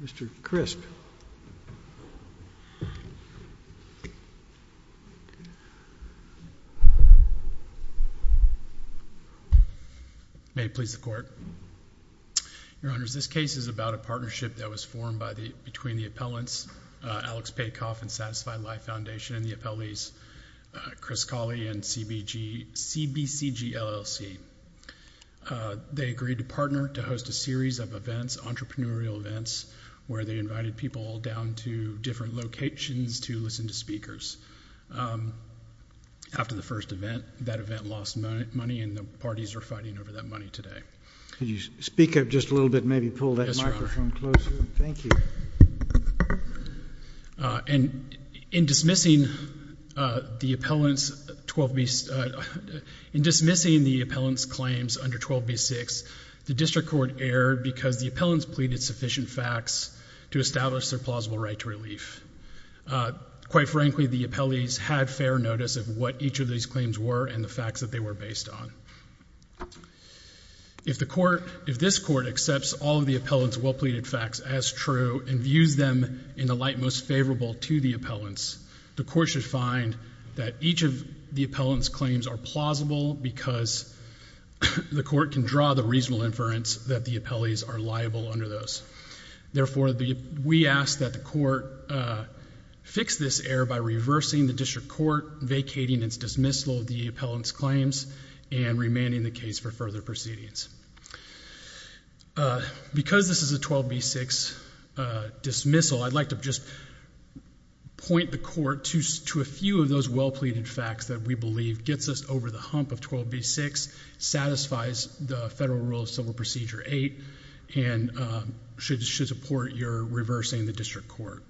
Mr. Crisp. May it please the Court. Your Honors, this case is about a partnership that was formed between the appellants Alex Paykoff and Satisfy Life Foundation and the appellees Chris Cawley and CBCGLLC. They agreed to partner to host a series of events, entrepreneurial events, where they invited people down to different locations to listen to speakers. After the first event, that event lost money and the parties are fighting over that money today. Could you speak up just a little bit, maybe pull that microphone closer? Yes, Your Honor. And in dismissing the appellant's claims under 12b6, the district court erred because the appellants pleaded sufficient facts to establish their plausible right to relief. Quite frankly, the appellees had fair notice of what each of these claims were and the facts that they were based on. If the court, if this court accepts all of the appellants well-pleaded facts as true and views them in the light most favorable to the appellants, the court should find that each of the appellant's claims are plausible because the court can draw the reasonable inference that the appellees are liable under those. Therefore, we ask that the court fix this error by reversing the district court, vacating its dismissal of the appellant's claims, and remanding the case for further proceedings. Because this is a 12b6 dismissal, I'd like to just point the court to a few of those well-pleaded facts that we believe gets us over the hump of 12b6, satisfies the federal rule of civil procedure 8, and should support your reversing the district court.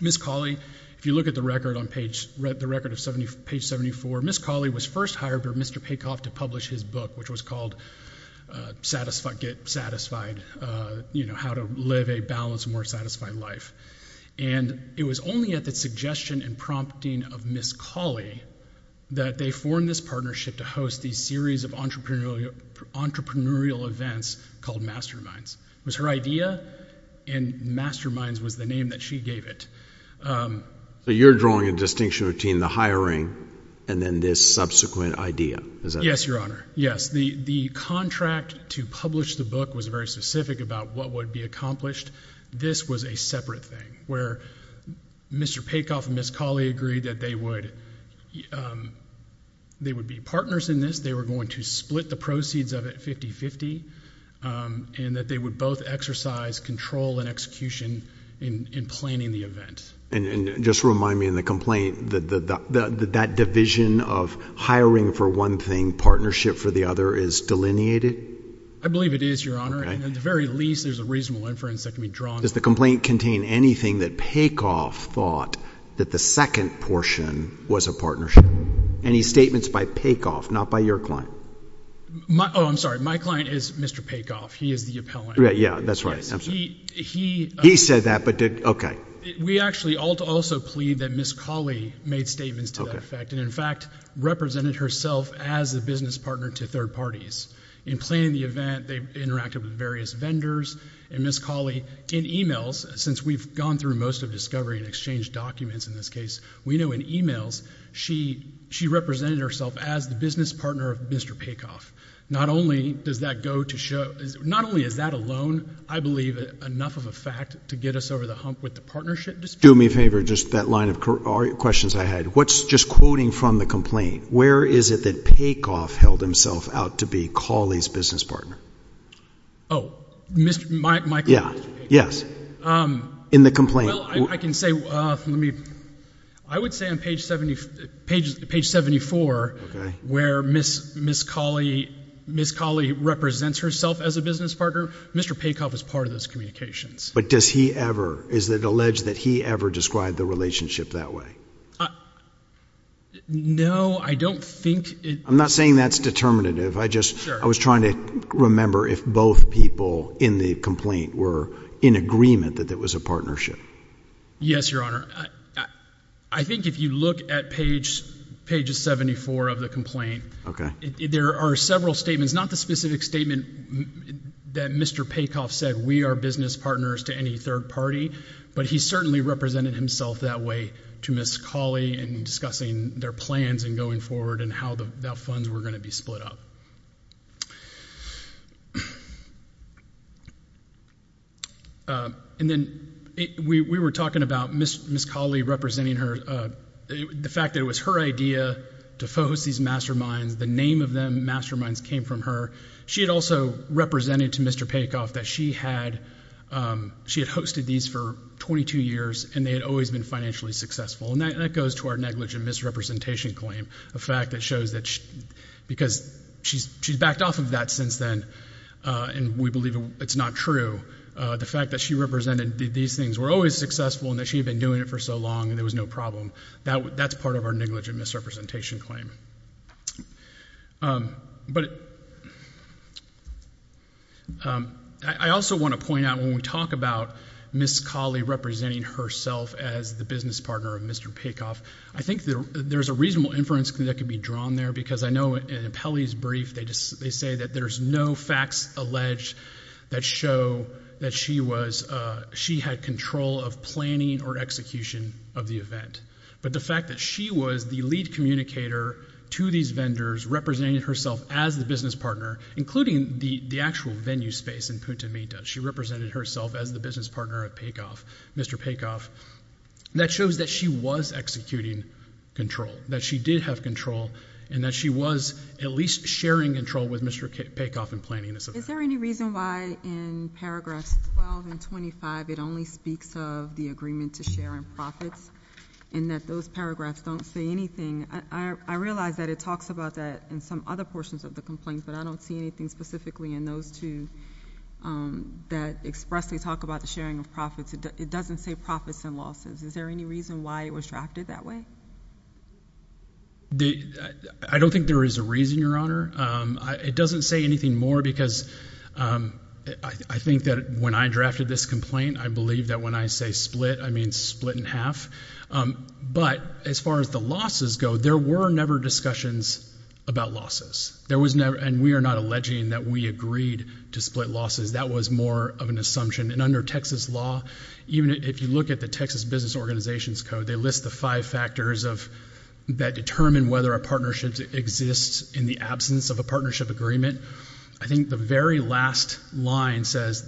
Ms. Cawley, if you look at the record of page 74, Ms. Cawley was first hired by Mr. Paycoff to publish his book, which was called Get Satisfied, you know, How to Live a Balanced, More Satisfied Life. And it was only at the suggestion and prompting of Ms. Cawley that they formed this partnership to host these series of entrepreneurial events called Masterminds. It was her idea, and Masterminds was the name that she gave it. So you're drawing a distinction between the hiring and then this subsequent idea? Yes, Your Honor. Yes, the contract to publish the book was very specific about what would be accomplished. This was a separate thing, where Mr. Paycoff and Ms. Cawley agreed that they would be partners in this, they were going to split the proceeds of it 50-50, and that they would both exercise control and execution in planning the event. And just remind me in the complaint that that division of hiring for one thing, partnership for the other, is delineated? I believe it is, Your Honor. At the very least, there's a reasonable inference that can be drawn. Does the complaint contain anything that Paycoff thought that the second portion was a partnership? Any statements by Paycoff, not by your client? Oh, I'm sorry, my client is Mr. Paycoff. He is the appellant. Yeah, that's right. He said that, but did, okay. We actually also plead that Ms. Cawley made statements to that effect, and in fact, represented herself as a business partner to third parties. In planning the event, they interacted with various vendors, and Ms. Cawley, in emails, since we've gone through most of discovery and exchange documents in this case, we know in emails, she represented herself as the business partner of Mr. Paycoff. Not only does that go to show, not only is that alone, I believe, enough of a fact to get us over the hump with the partnership. Do me a favor, just that line of questions I had. What's, just quoting from the complaint, where is it that Paycoff held himself out to be Cawley's business partner? Oh, my client, Mr. Paycoff. Yes, in the complaint. Well, I can say, let me, I would say on page 74, where Ms. Cawley represents herself as a business partner, Mr. Paycoff is part of those communications. But does he ever, is it alleged that he ever described the relationship that way? No, I don't think. I'm not saying that's determinative. I just, I was trying to remember if both people in the complaint were in agreement that it was a partnership. Yes, Your Honor. I think if you look at page, pages 74 of the complaint. Okay. There are several statements, not the specific statement that Mr. Paycoff said, we are business partners to any third party, but he certainly represented himself that way to Ms. Cawley in discussing their plans and going forward and how the funds were going to be split up. And then we were talking about Ms. Cawley representing her, the fact that it was her idea to host these masterminds, the name of them, masterminds, came from her. She had also represented to Mr. Paycoff that she had, she had hosted these for 22 years and they had always been financially successful. And that goes to our negligent misrepresentation claim, a fact that shows that she, because she's backed off of that since then and we believe it's not true. The fact that she represented these things were always successful and that she had been doing it for so long and there was no problem. That's part of our negligent misrepresentation claim. But I also want to point out when we talk about Ms. Cawley representing herself as the business partner of Mr. Paycoff, I think that there's a reasonable inference that could be drawn there because I know in an appellee's brief they just, they say that there's no facts alleged that show that she was, she had control of planning or execution of the event. But the fact that she was the lead communicator to these vendors, representing herself as the business partner, including the actual venue space in Punta Mita, she represented herself as the business partner of Paycoff, Mr. Paycoff, that shows that she was executing control, that she did have control and that she was at least sharing control with Mr. Paycoff in planning this event. Is there any reason why in paragraphs 12 and 25 it only speaks of the agreement to share in profits and that those paragraphs don't say anything? I realize that it talks about that in some other portions of the complaint, but I don't see anything specifically in those two that expressly talk about the sharing of profits. It doesn't say profits and losses. Is there any reason why it was drafted that way? I don't think there is a reason, Your Honor. It doesn't say anything more because I think that when I drafted this complaint, I believe that when I say split, I mean split in half. But as far as the losses go, there were never discussions about losses. And we are not alleging that we agreed to split losses. That was more of an assumption. And under Texas law, even if you look at the Texas Business Organizations Code, they list the five factors that determine whether a partnership exists in the absence of a partnership agreement. I think the very last line says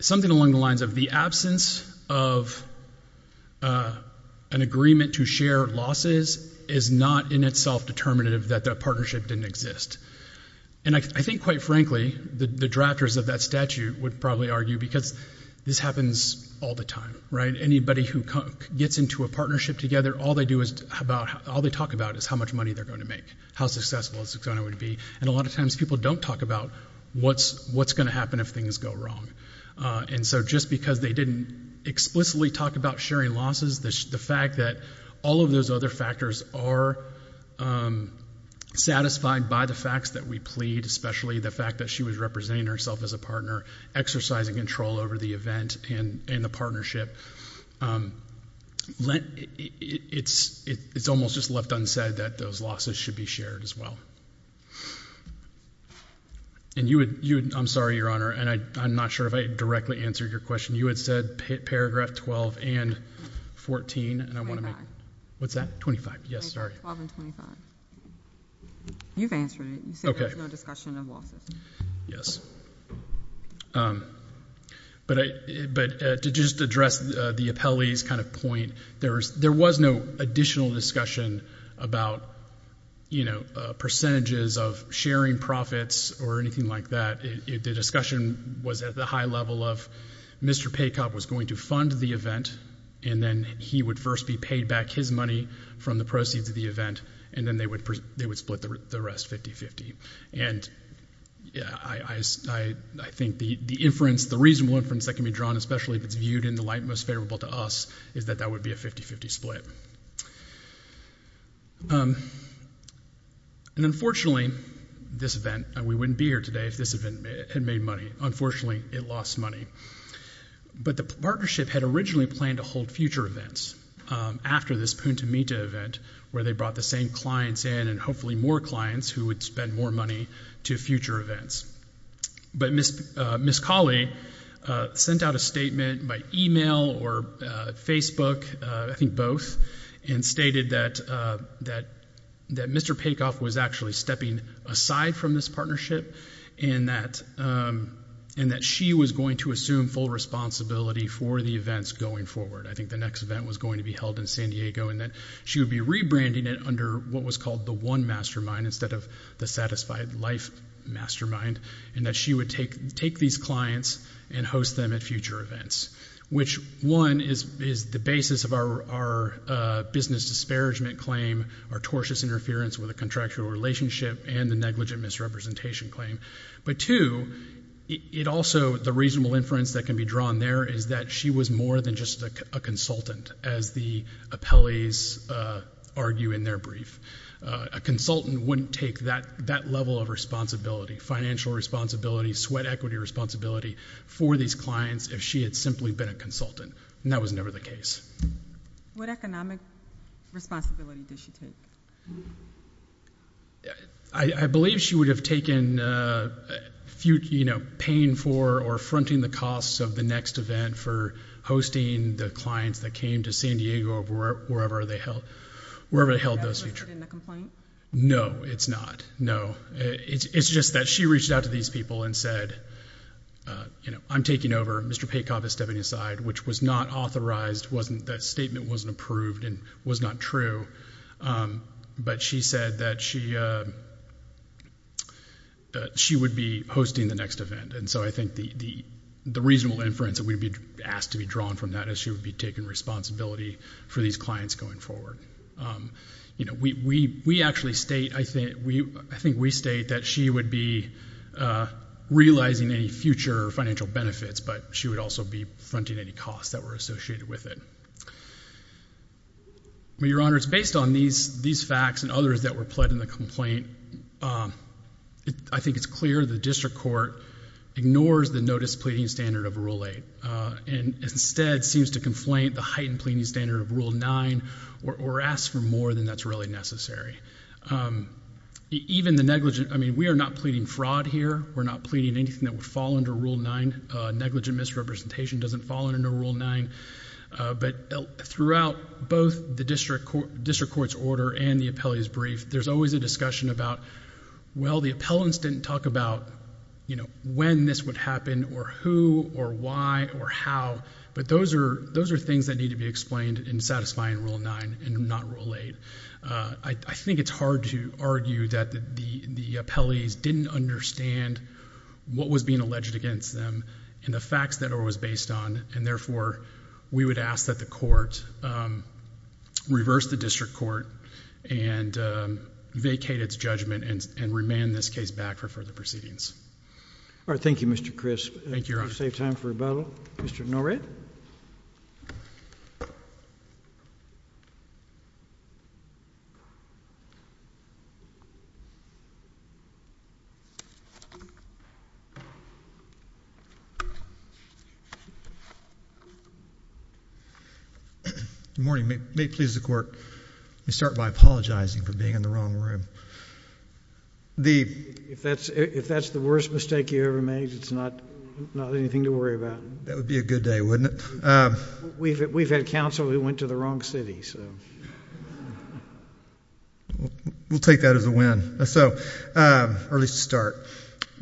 something along the lines of the absence of an agreement to share losses is not in itself determinative that the partnership didn't exist. And I think, quite frankly, the drafters of that statute would probably argue because this happens all the time, right? Anybody who gets into a partnership together, all they talk about is how much money they're going to make, how successful it's going to be. And a lot of times people don't talk about what's going to happen if things go wrong. And so just because they didn't explicitly talk about sharing losses, the fact that all of those other factors are satisfied by the facts that we plead, especially the fact that she was representing herself as a partner, exercising control over the event and the partnership, it's almost just left unsaid that those losses should be shared as well. And I'm sorry, Your Honor, and I'm not sure if I directly answered your question. You had said paragraph 12 and 14, and I want to make... What's that? Twenty-five. Yes, sorry. Twelve and twenty-five. You've answered it. You said there was no discussion of losses. Okay. Yes. But to just address the appellee's kind of point, there was no additional discussion about, you know, percentages of sharing profits or anything like that. The discussion was at the high level of Mr. Paycobb was going to fund the event, and then he would first be paid back his money from the proceeds of the event, and then they would split the rest 50-50. And I think the inference, the reasonable inference that can be drawn, especially if it's viewed in the light most favorable to us, is that that would be a 50-50 split. And unfortunately, this event, and we wouldn't be here today if this event had made money. Unfortunately, it lost money. But the partnership had originally planned to hold future events after this Punta Mita event where they brought the same clients in and hopefully more clients who would spend more money to future events. But Ms. Colley sent out a statement by email or Facebook, I think both, and stated that Mr. Paycobb was actually stepping aside from this partnership and that she was going to assume full responsibility for the events going forward. I think the next event was going to be held in San Diego and that she would be rebranding it under what was called the One Mastermind instead of the Satisfied Life Mastermind, and that she would take these clients and host them at future events, which, one, is the basis of our business disparagement claim, our tortious interference with a contractual relationship, and the negligent misrepresentation claim. But, two, it also, the reasonable inference that can be drawn there is that she was more than just a consultant, as the appellees argue in their brief. A consultant wouldn't take that level of responsibility, financial responsibility, sweat equity responsibility, for these clients if she had simply been a consultant, and that was never the case. What economic responsibility did she take? I believe she would have taken, you know, paying for or fronting the costs of the next event for hosting the clients that came to San Diego or wherever they held those future events. No, it's not. No. It's just that she reached out to these people and said, you know, I'm taking over. Mr. Paycoff is stepping aside, which was not authorized, wasn't, that statement wasn't approved and was not true, but she said that she would be hosting the next event, and so I think the reasonable inference that would be asked to be drawn from that is she would be taking responsibility for these clients going forward. You know, we actually state, I think we state that she would be realizing any future financial benefits, but she would also be fronting any costs that were associated with it. Your Honor, it's based on these facts and others that were pled in the complaint. I think it's clear the district court ignores the notice pleading standard of Rule 8 and instead seems to conflate the heightened pleading standard of Rule 9 or ask for more than that's really necessary. Even the negligent, I mean, we are not pleading fraud here. We're not pleading anything that would fall under Rule 9. Negligent misrepresentation doesn't fall under Rule 9, but throughout both the district court's order and the appellee's brief, there's always a discussion about, well, the appellants didn't talk about, you know, when this would happen or who or why or how, but those are things that need to be explained in satisfying Rule 9 and not Rule 8. I think it's hard to argue that the appellees didn't understand what was being alleged against them and the facts that it was based on, and therefore, we would ask that the court reverse the district court and vacate its judgment and remand this case back for further proceedings. All right. Thank you, Mr. Crisp. Thank you, Your Honor. I'll save time for rebuttal. Mr. Norrett. Good morning. May it please the Court, I start by apologizing for being in the wrong room. If that's the worst mistake you ever made, it's not anything to worry about. That would be a good day, wouldn't it? We've had counsel who went to the wrong city, so. We'll take that as a win. So, early start.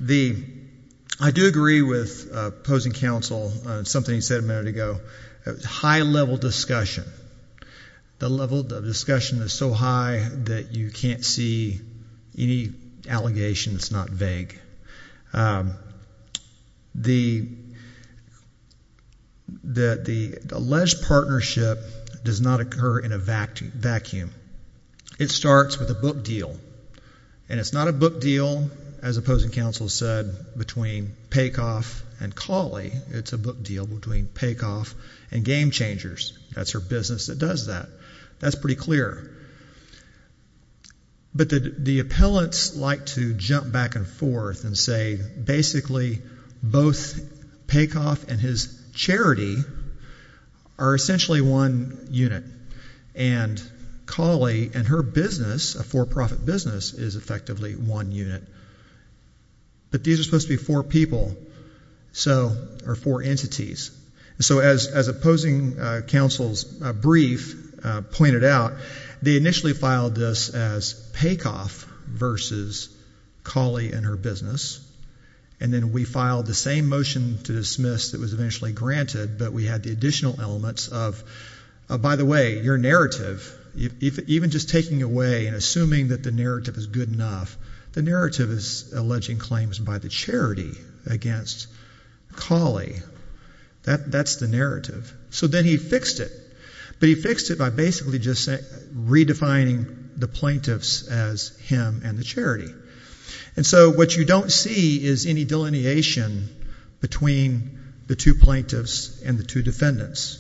I do agree with opposing counsel on something he said a minute ago. High-level discussion. The level of discussion is so high that you can't see any allegation that's not vague. The alleged partnership does not occur in a vacuum. It starts with a book deal, and it's not a book deal, as opposing counsel said, between Pacoff and Cauley. It's a book deal between Pacoff and Game Changers. That's her business that does that. That's pretty clear. But the the appellants like to jump back and forth and say, basically, both Pacoff and his charity are essentially one unit. And Cauley and her business, a for-profit business, is effectively one unit. But these are supposed to be four people, so, or four entities. So, as opposing counsel's brief pointed out, they initially filed this as Pacoff versus Cauley and her business. And then we filed the same motion to dismiss that was eventually granted, but we had the additional elements of, by the way, your narrative, even just taking away and assuming that the narrative is good enough, the narrative is alleging claims by the charity against Cauley. That's the narrative. So then he fixed it, but he fixed it by basically just redefining the plaintiffs as him and the charity. And so what you don't see is any delineation between the two plaintiffs and the two defendants.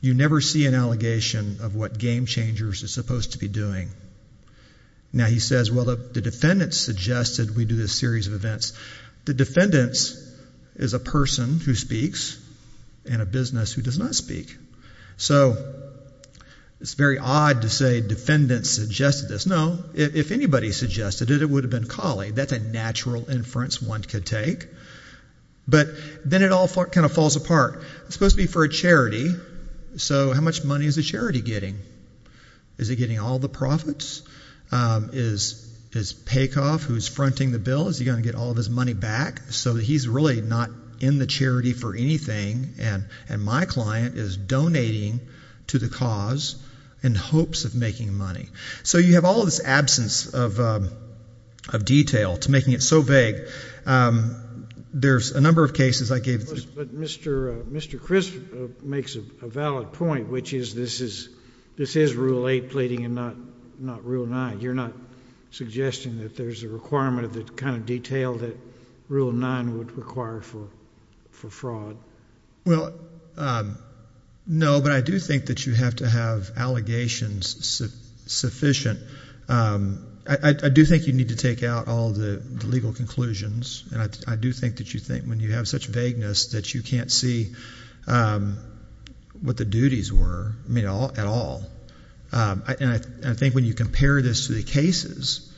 You never see an allegation of what Game Changers is supposed to be doing. Now, he says, well, the defendants suggested we do this series of events. The defendants is a person who speaks and a business who does not speak. So it's very odd to say defendants suggested this. No, if anybody suggested it, it would have been Cauley. That's a natural inference one could take. But then it all kind of falls apart. It's supposed to be for a charity, so how much money is the charity getting? Is it getting all the profits? Is Pacoff, who's fronting the bill, is he going to get all this money back? So he's really not in the charity for anything, and my client is donating to the cause in hopes of making money. So you have all this absence of detail to making it so vague. There's a number of cases I gave. But Mr. Chris makes a valid point, which is this is rule 8 pleading and not rule 9. You're not suggesting that there's a requirement of the kind of detail that rule 9 would require for fraud? Well, no, but I do think that you have to have allegations sufficient. I do think you need to take out all the legal conclusions, and I do think that you think when you have such vagueness that you can't see what the duties were, I mean, at all. And I think when you compare this to the cases,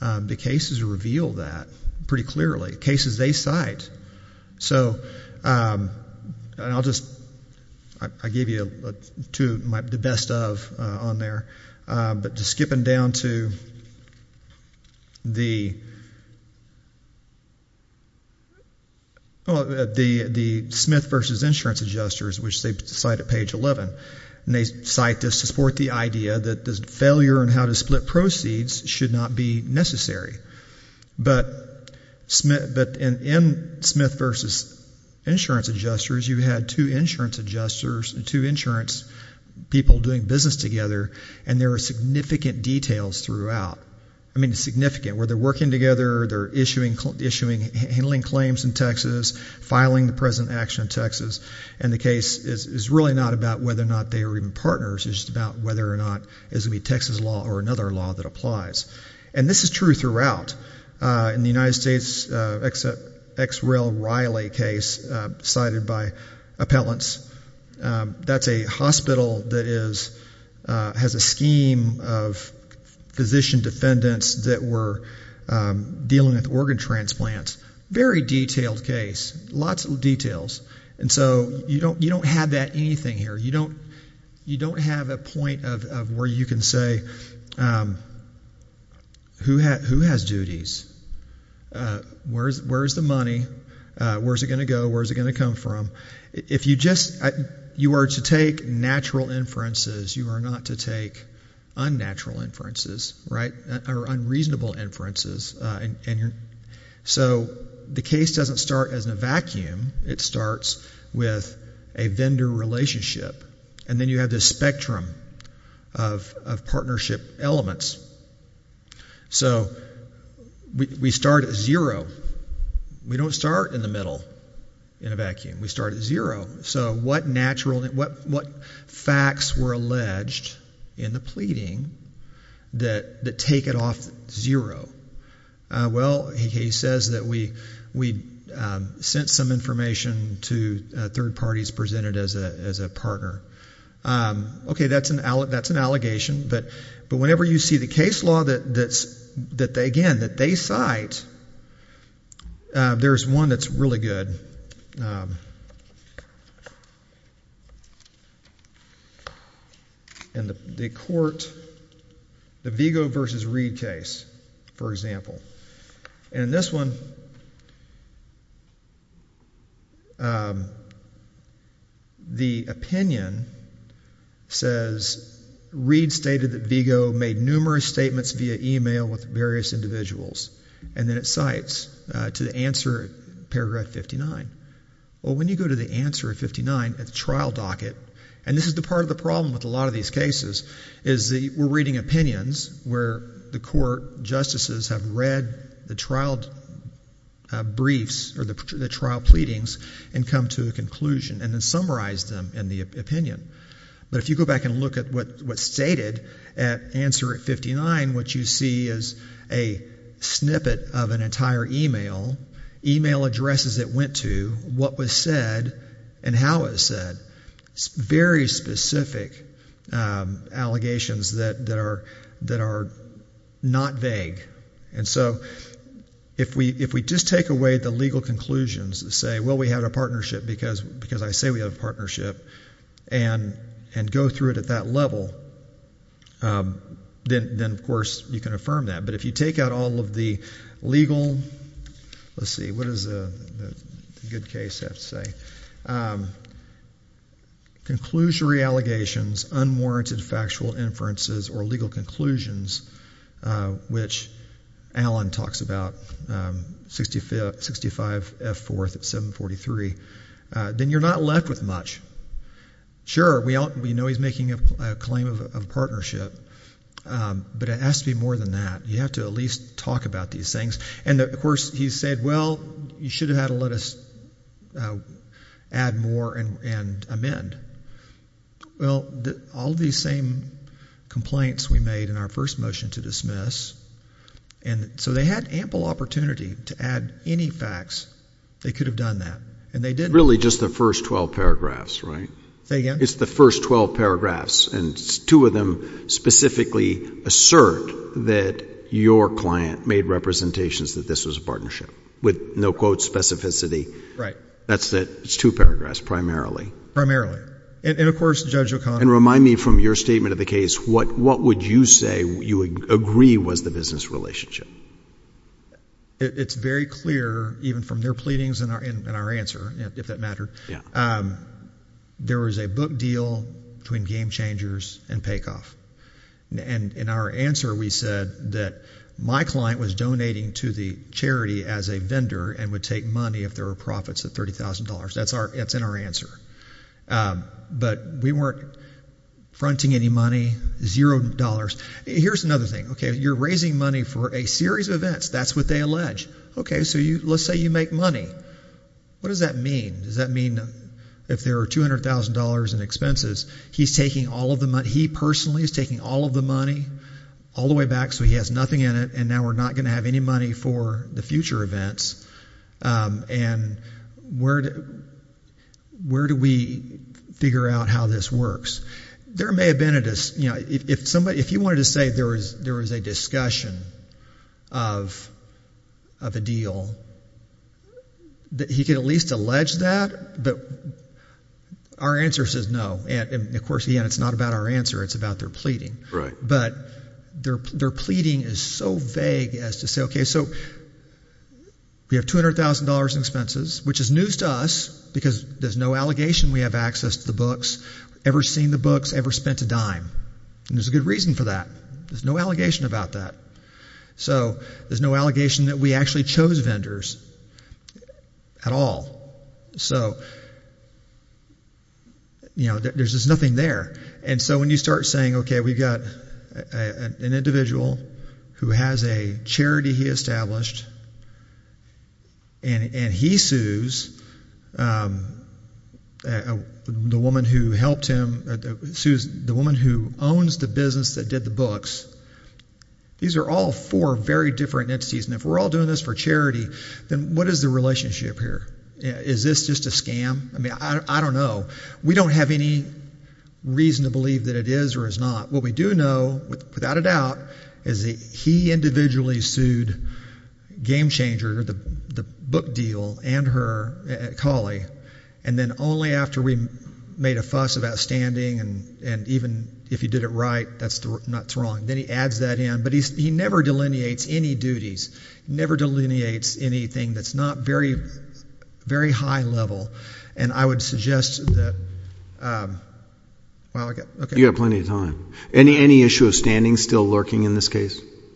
the cases reveal that pretty clearly. Cases they cite. So I'll just give you two of the best of on there, but just skipping down to the Smith v. Insurance Adjusters, which they cite at page 11. And they cite this to support the idea that the failure and how to split proceeds should not be necessary. But in Smith v. Insurance Adjusters, you had two insurance adjusters, two insurance people doing business together, and there are significant details throughout. I mean, significant, where they're working together, they're issuing, handling claims in Texas, filing the present action in Texas, and the case is really not about whether or not they are even partners, it's just about whether or not it's going to be Texas law or another law that applies. And this is true throughout. In the United States, ex rel. Riley case cited by appellants, that's a hospital that has a scheme of physician defendants that were dealing with organ transplants. Very detailed case, lots of details, and so you don't have that anything here. You don't have a point of where you can say who has duties, where's the money, where's it going to go, where's it going to come from. If you just, you are to take natural inferences, you are not to take unnatural inferences, right, or unreasonable inferences. And so the case doesn't start as in a vacuum. It starts with a vendor relationship, and then you have this spectrum of partnership elements. So we start at zero. We don't start in the middle, in a vacuum. We start at zero. So what natural, what facts were alleged in the pleading that take it off zero? Well, he says that we sent some information to third parties presented as a partner. Okay, that's an allegation, but whenever you see the case law that they cite, there's one that's really good. And the court, the Vigo versus Reed case, for example, and this one, the opinion says Reed stated that Vigo made numerous statements via email with various Well, when you go to the answer at 59 at the trial docket, and this is the part of the problem with a lot of these cases, is that we're reading opinions where the court justices have read the trial briefs or the trial pleadings and come to a conclusion and then summarize them in the opinion. But if you go back and look at what was stated at answer at 59, what you see is a snippet of an entire email, email addresses it went to, what was said, and how it was said. Very specific allegations that are not vague. And so if we just take away the legal conclusions and say, well, we had a partnership because I say we have a partnership, and go through it at that level, then of course you can confirm that. But if you take out all of the legal, let's see, what does the good case have to say, conclusionary allegations, unwarranted factual inferences, or legal conclusions, which Alan talks about, 65F4 at 743, then you're not left with much. Sure, we know he's making a claim of a partnership, but it has to be more than that. You have to at least talk about these things. And of course, he said, well, you should have had to let us add more and amend. Well, all these same complaints we made in our first motion to dismiss, and so they had ample opportunity to add any facts. They could have done that, and they didn't. It's really just the first 12 paragraphs, right? Say again? It's the first 12 paragraphs, and two of them specifically assert that your client made representations that this was a partnership, with no quote specificity. Right. That's it. It's two paragraphs, primarily. Primarily. And of course, Judge O'Connor. And remind me from your statement of the case, what would you say you would agree was the business relationship? It's very clear, even from their pleadings and our answer, if that mattered, there was a book deal between Game Changers and Paycoff. And in our answer, we said that my client was donating to the charity as a vendor and would take money if there were profits of $30,000. That's in our answer. But we weren't fronting any money, zero dollars. Here's another thing. Okay, you're raising money for a series of events. That's what they allege. Okay, so let's say you make money. What does that mean? Does that mean if there are $200,000 in expenses, he's taking all of the money, he personally is taking all of the money, all the way back, so he has nothing in it, and now we're not going to have any money for the future events. And where do we figure out how this works? There may have been a – if you wanted to say there was a discussion of a deal, he could at least allege that, but our answer says no. And of course, again, it's not about our answer. It's about their pleading. But their pleading is so vague as to say, okay, so we have $200,000 in expenses, which is news to us because there's no allegation we have access to the books, ever seen the books, ever spent a dime. And there's a good reason for that. There's no allegation about that. So there's no allegation that we actually chose vendors at all. So there's just nothing there. And so when you start saying, okay, we've got an individual who has a charity he established, and he sues the woman who helped him – sues the woman who owns the business that did the books. These are all four very different entities, and if we're all doing this for charity, then what is the relationship here? Is this just a scam? I mean, I don't know. We don't have any reason to believe that it is or is not. What we do know, without a doubt, is that he individually sued Game Changer, the book deal, and her, Collie.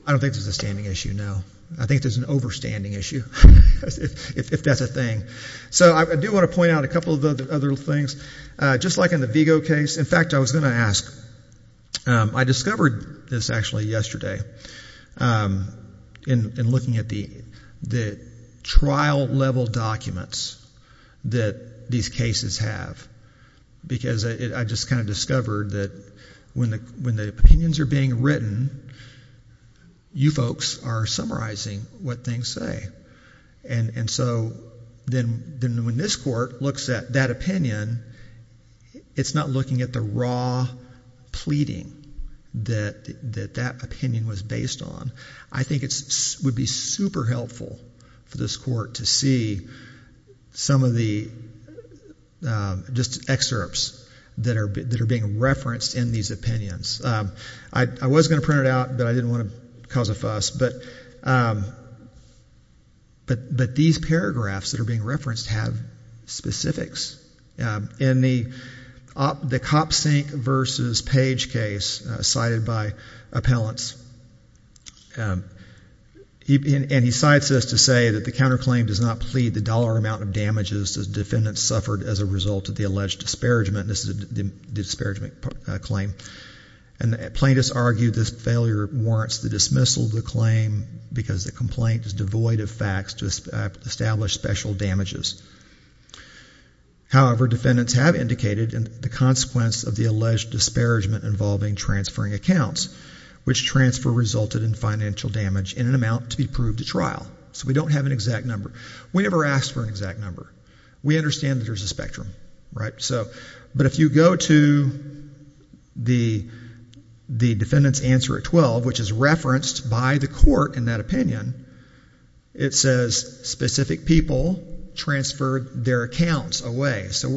I don't think there's a standing issue, no. I think there's an overstanding issue, if that's a thing. So I do want to point out a couple of other things. Just like in the Vigo case – in fact, I was going to ask – I discovered this actually yesterday in looking at the trial-level documents that these cases have because I just kind of discovered that when the opinions are being written, you folks are summarizing what things say. And so then when this court looks at that opinion, it's not looking at the raw pleading that that opinion was based on. I think it would be super helpful for this court to see some of the – just excerpts that are being referenced in these opinions. I was going to print it out, but I didn't want to cause a fuss. But these paragraphs that are being referenced have specifics. In the Kopsink v. Page case cited by appellants – and he cites this to say that the counterclaim does not plead the dollar amount of damages the defendant suffered as a result of the alleged disparagement. This is a disparagement claim. And plaintiffs argue this failure warrants the dismissal of the claim because the complaint is devoid of facts to establish special damages. However, defendants have indicated the consequence of the alleged disparagement involving transferring accounts, which transfer resulted in financial damage in an amount to be proved at trial. So we don't have an exact number. We never asked for an exact number. We understand that there's a spectrum. But if you go to the defendant's answer at 12, which is referenced by the court in that opinion, it says specific people transferred their accounts away. So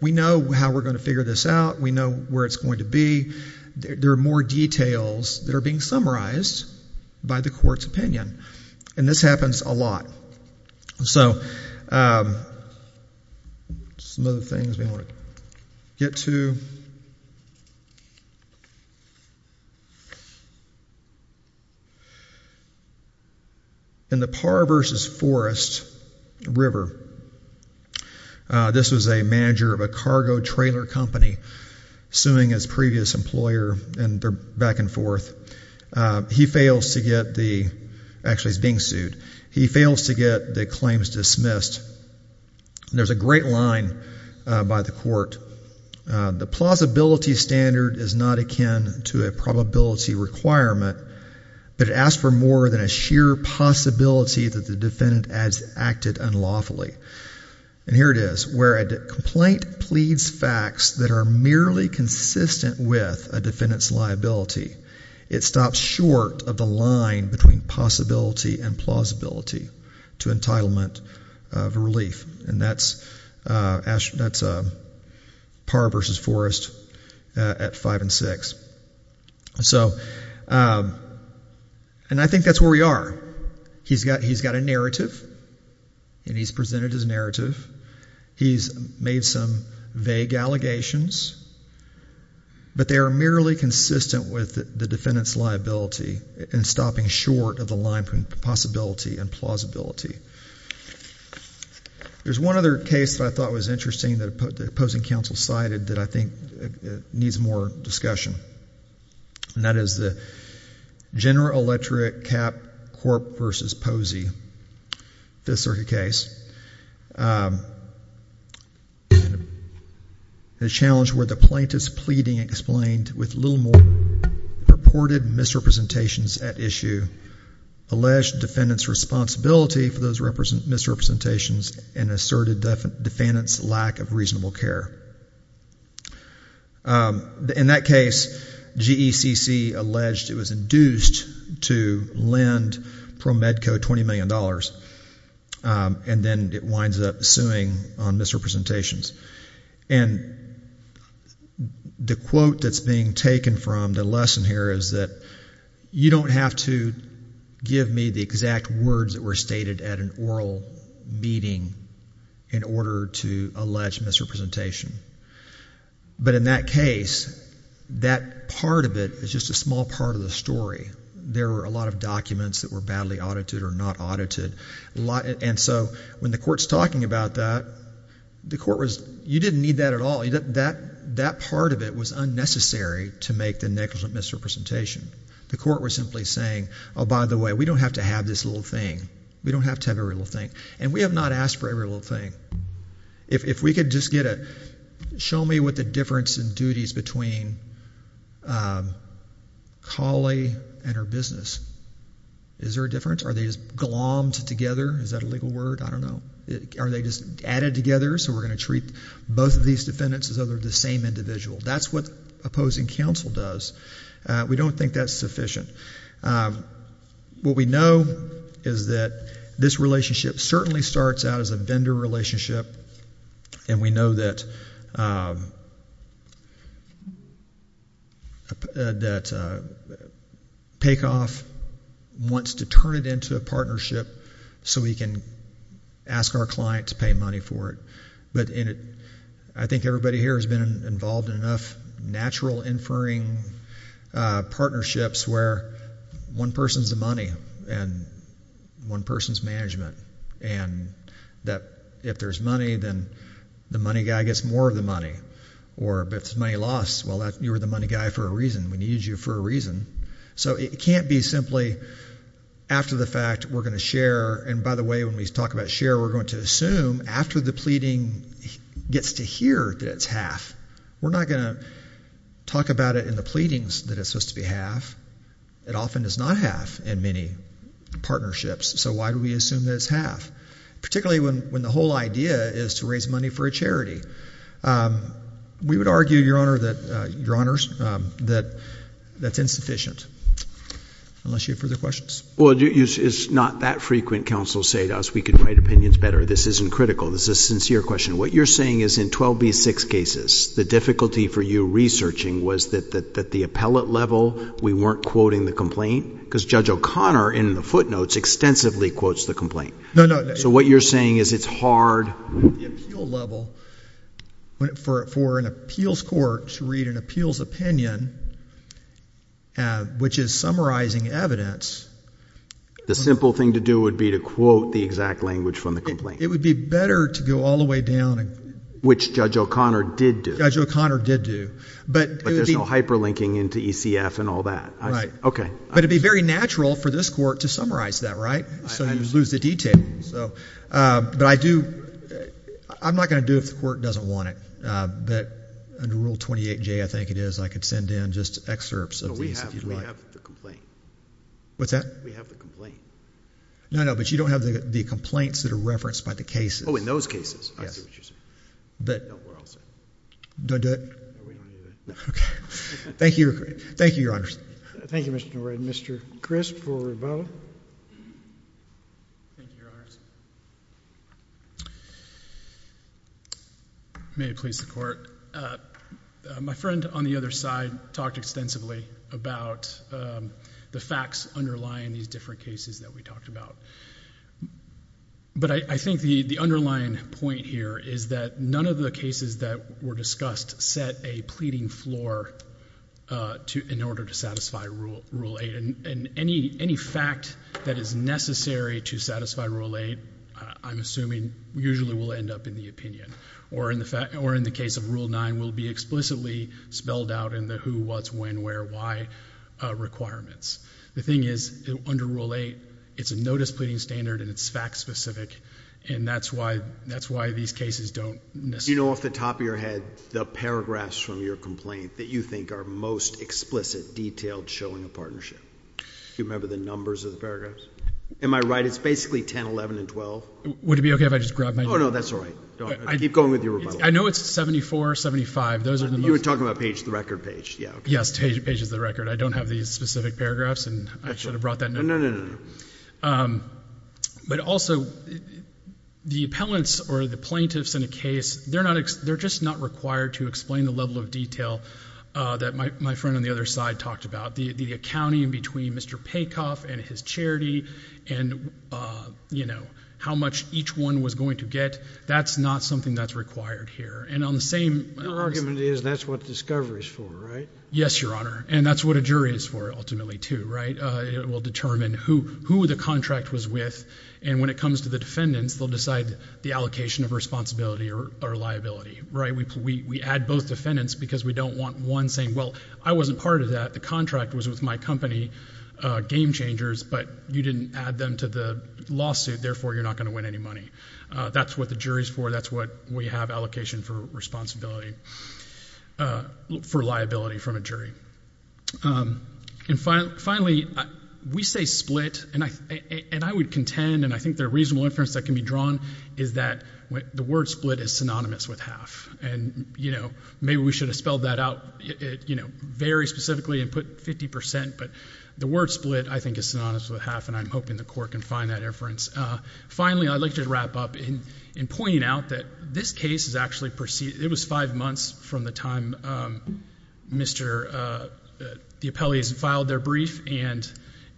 we know how we're going to figure this out. We know where it's going to be. There are more details that are being summarized by the court's opinion. And this happens a lot. So some other things we want to get to. In the Parr v. Forest River, this was a manager of a cargo trailer company suing his previous employer, and they're back and forth. He fails to get the – actually, he's being sued. He fails to get the claims dismissed. There's a great line by the court. The plausibility standard is not akin to a probability requirement, but it asks for more than a sheer possibility that the defendant has acted unlawfully. And here it is, where a complaint pleads facts that are merely consistent with a defendant's liability. It stops short of the line between possibility and plausibility to entitlement of relief. And that's Parr v. Forest at 5 and 6. And I think that's where we are. He's got a narrative, and he's presented his narrative. He's made some vague allegations, but they are merely consistent with the defendant's liability and stopping short of the line between possibility and plausibility. There's one other case that I thought was interesting that the opposing counsel cited that I think needs more discussion, and that is the General Electric C.A.P. Corp. v. Posey Fifth Circuit case. It's a challenge where the plaintiff's pleading explained with little more purported misrepresentations at issue, alleged defendant's responsibility for those misrepresentations, and asserted defendant's lack of reasonable care. In that case, GECC alleged it was induced to lend ProMedCo $20 million. And then it winds up suing on misrepresentations. And the quote that's being taken from the lesson here is that you don't have to give me the exact words that were stated at an oral meeting in order to allege misrepresentation. But in that case, that part of it is just a small part of the story. There were a lot of documents that were badly audited or not audited. And so when the court's talking about that, the court was, you didn't need that at all. That part of it was unnecessary to make the negligent misrepresentation. The court was simply saying, oh, by the way, we don't have to have this little thing. We don't have to have every little thing. And we have not asked for every little thing. If we could just get a, show me what the difference in duties between Collie and her business. Is there a difference? Are they just glommed together? Is that a legal word? I don't know. Are they just added together so we're going to treat both of these defendants as though they're the same individual? That's what opposing counsel does. We don't think that's sufficient. What we know is that this relationship certainly starts out as a vendor relationship. And we know that, that Paycoff wants to turn it into a partnership so we can ask our client to pay money for it. I think everybody here has been involved in enough natural inferring partnerships where one person's the money and one person's management. And that if there's money, then the money guy gets more of the money. Or if there's money lost, well, you were the money guy for a reason. We needed you for a reason. So it can't be simply after the fact, we're going to share. It gets to hear that it's half. We're not going to talk about it in the pleadings that it's supposed to be half. It often is not half in many partnerships. So why do we assume that it's half? Particularly when the whole idea is to raise money for a charity. We would argue, Your Honor, that that's insufficient. Unless you have further questions. Well, it's not that frequent counsel say to us, we can write opinions better. This isn't critical. This is a sincere question. What you're saying is in 12B6 cases, the difficulty for you researching was that the appellate level, we weren't quoting the complaint. Because Judge O'Connor in the footnotes extensively quotes the complaint. So what you're saying is it's hard. At the appeal level, for an appeals court to read an appeals opinion, which is summarizing evidence. The simple thing to do would be to quote the exact language from the complaint. It would be better to go all the way down. Which Judge O'Connor did do. Judge O'Connor did do. But there's no hyperlinking into ECF and all that. Okay. But it would be very natural for this court to summarize that, right? So you lose the detail. But I do, I'm not going to do it if the court doesn't want it. But under Rule 28J, I think it is, I could send in just excerpts of these if you'd like. No, we have the complaint. What's that? We have the complaint. No, no, but you don't have the complaints that are referenced by the cases. Oh, in those cases. Yes. I see what you're saying. No, we're all set. Don't do it? No, we don't do that. Okay. Thank you. Thank you, Your Honors. Thank you, Mr. Norred. Mr. Crisp or Riveau? Thank you, Your Honors. May it please the Court. My friend on the other side talked extensively about the facts underlying these different cases that we talked about. But I think the underlying point here is that none of the cases that were discussed set a pleading floor in order to satisfy Rule 8. And any fact that is necessary to satisfy Rule 8, I'm assuming, usually will end up in the opinion. Or in the case of Rule 9, will be explicitly spelled out in the who, what, when, where, why requirements. The thing is, under Rule 8, it's a notice pleading standard and it's fact specific. And that's why these cases don't necessarily... Do you know off the top of your head the paragraphs from your complaint that you think are most explicit, detailed, showing a partnership? Do you remember the numbers of the paragraphs? Am I right? It's basically 10, 11, and 12. Would it be okay if I just grabbed my... Oh, no, that's all right. Keep going with your rebuttal. I know it's 74, 75. Those are the most... You were talking about page, the record page. Yeah, okay. Yes, page is the record. I don't have these specific paragraphs and I should have brought that note. No, no, no, no. But also, the appellants or the plaintiffs in a case, they're just not required to explain the level of detail that my friend on the other side talked about. The accounting between Mr. Paykoff and his charity and, you know, how much each one was going to get, that's not something that's required here. And on the same... Your argument is that's what discovery is for, right? Yes, Your Honor, and that's what a jury is for ultimately, too, right? It will determine who the contract was with and when it comes to the defendants, they'll decide the allocation of responsibility or liability, right? We add both defendants because we don't want one saying, well, I wasn't part of that. The contract was with my company, Game Changers, but you didn't add them to the lawsuit. Therefore, you're not going to win any money. That's what the jury is for. That's what we have allocation for liability from a jury. And finally, we say split, and I would contend, and I think there are reasonable inferences that can be drawn, is that the word split is synonymous with half. And, you know, maybe we should have spelled that out, you know, very specifically and put 50 percent, but the word split, I think, is synonymous with half, and I'm hoping the court can find that inference. Finally, I'd like to wrap up in pointing out that this case is actually proceeding. It was five months from the time Mr. DiAppellis filed their brief, and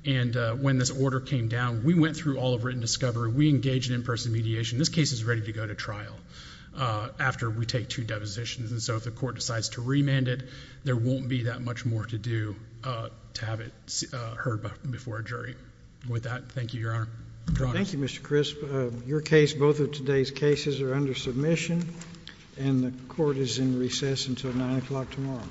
when this order came down, we went through all of written discovery. We engaged in in-person mediation. This case is ready to go to trial after we take two depositions, and so if the court decides to remand it, there won't be that much more to do to have it heard before a jury. With that, thank you, Your Honor. Thank you, Mr. Crisp. Your case, both of today's cases, are under submission, and the court is in recess until 9 o'clock tomorrow.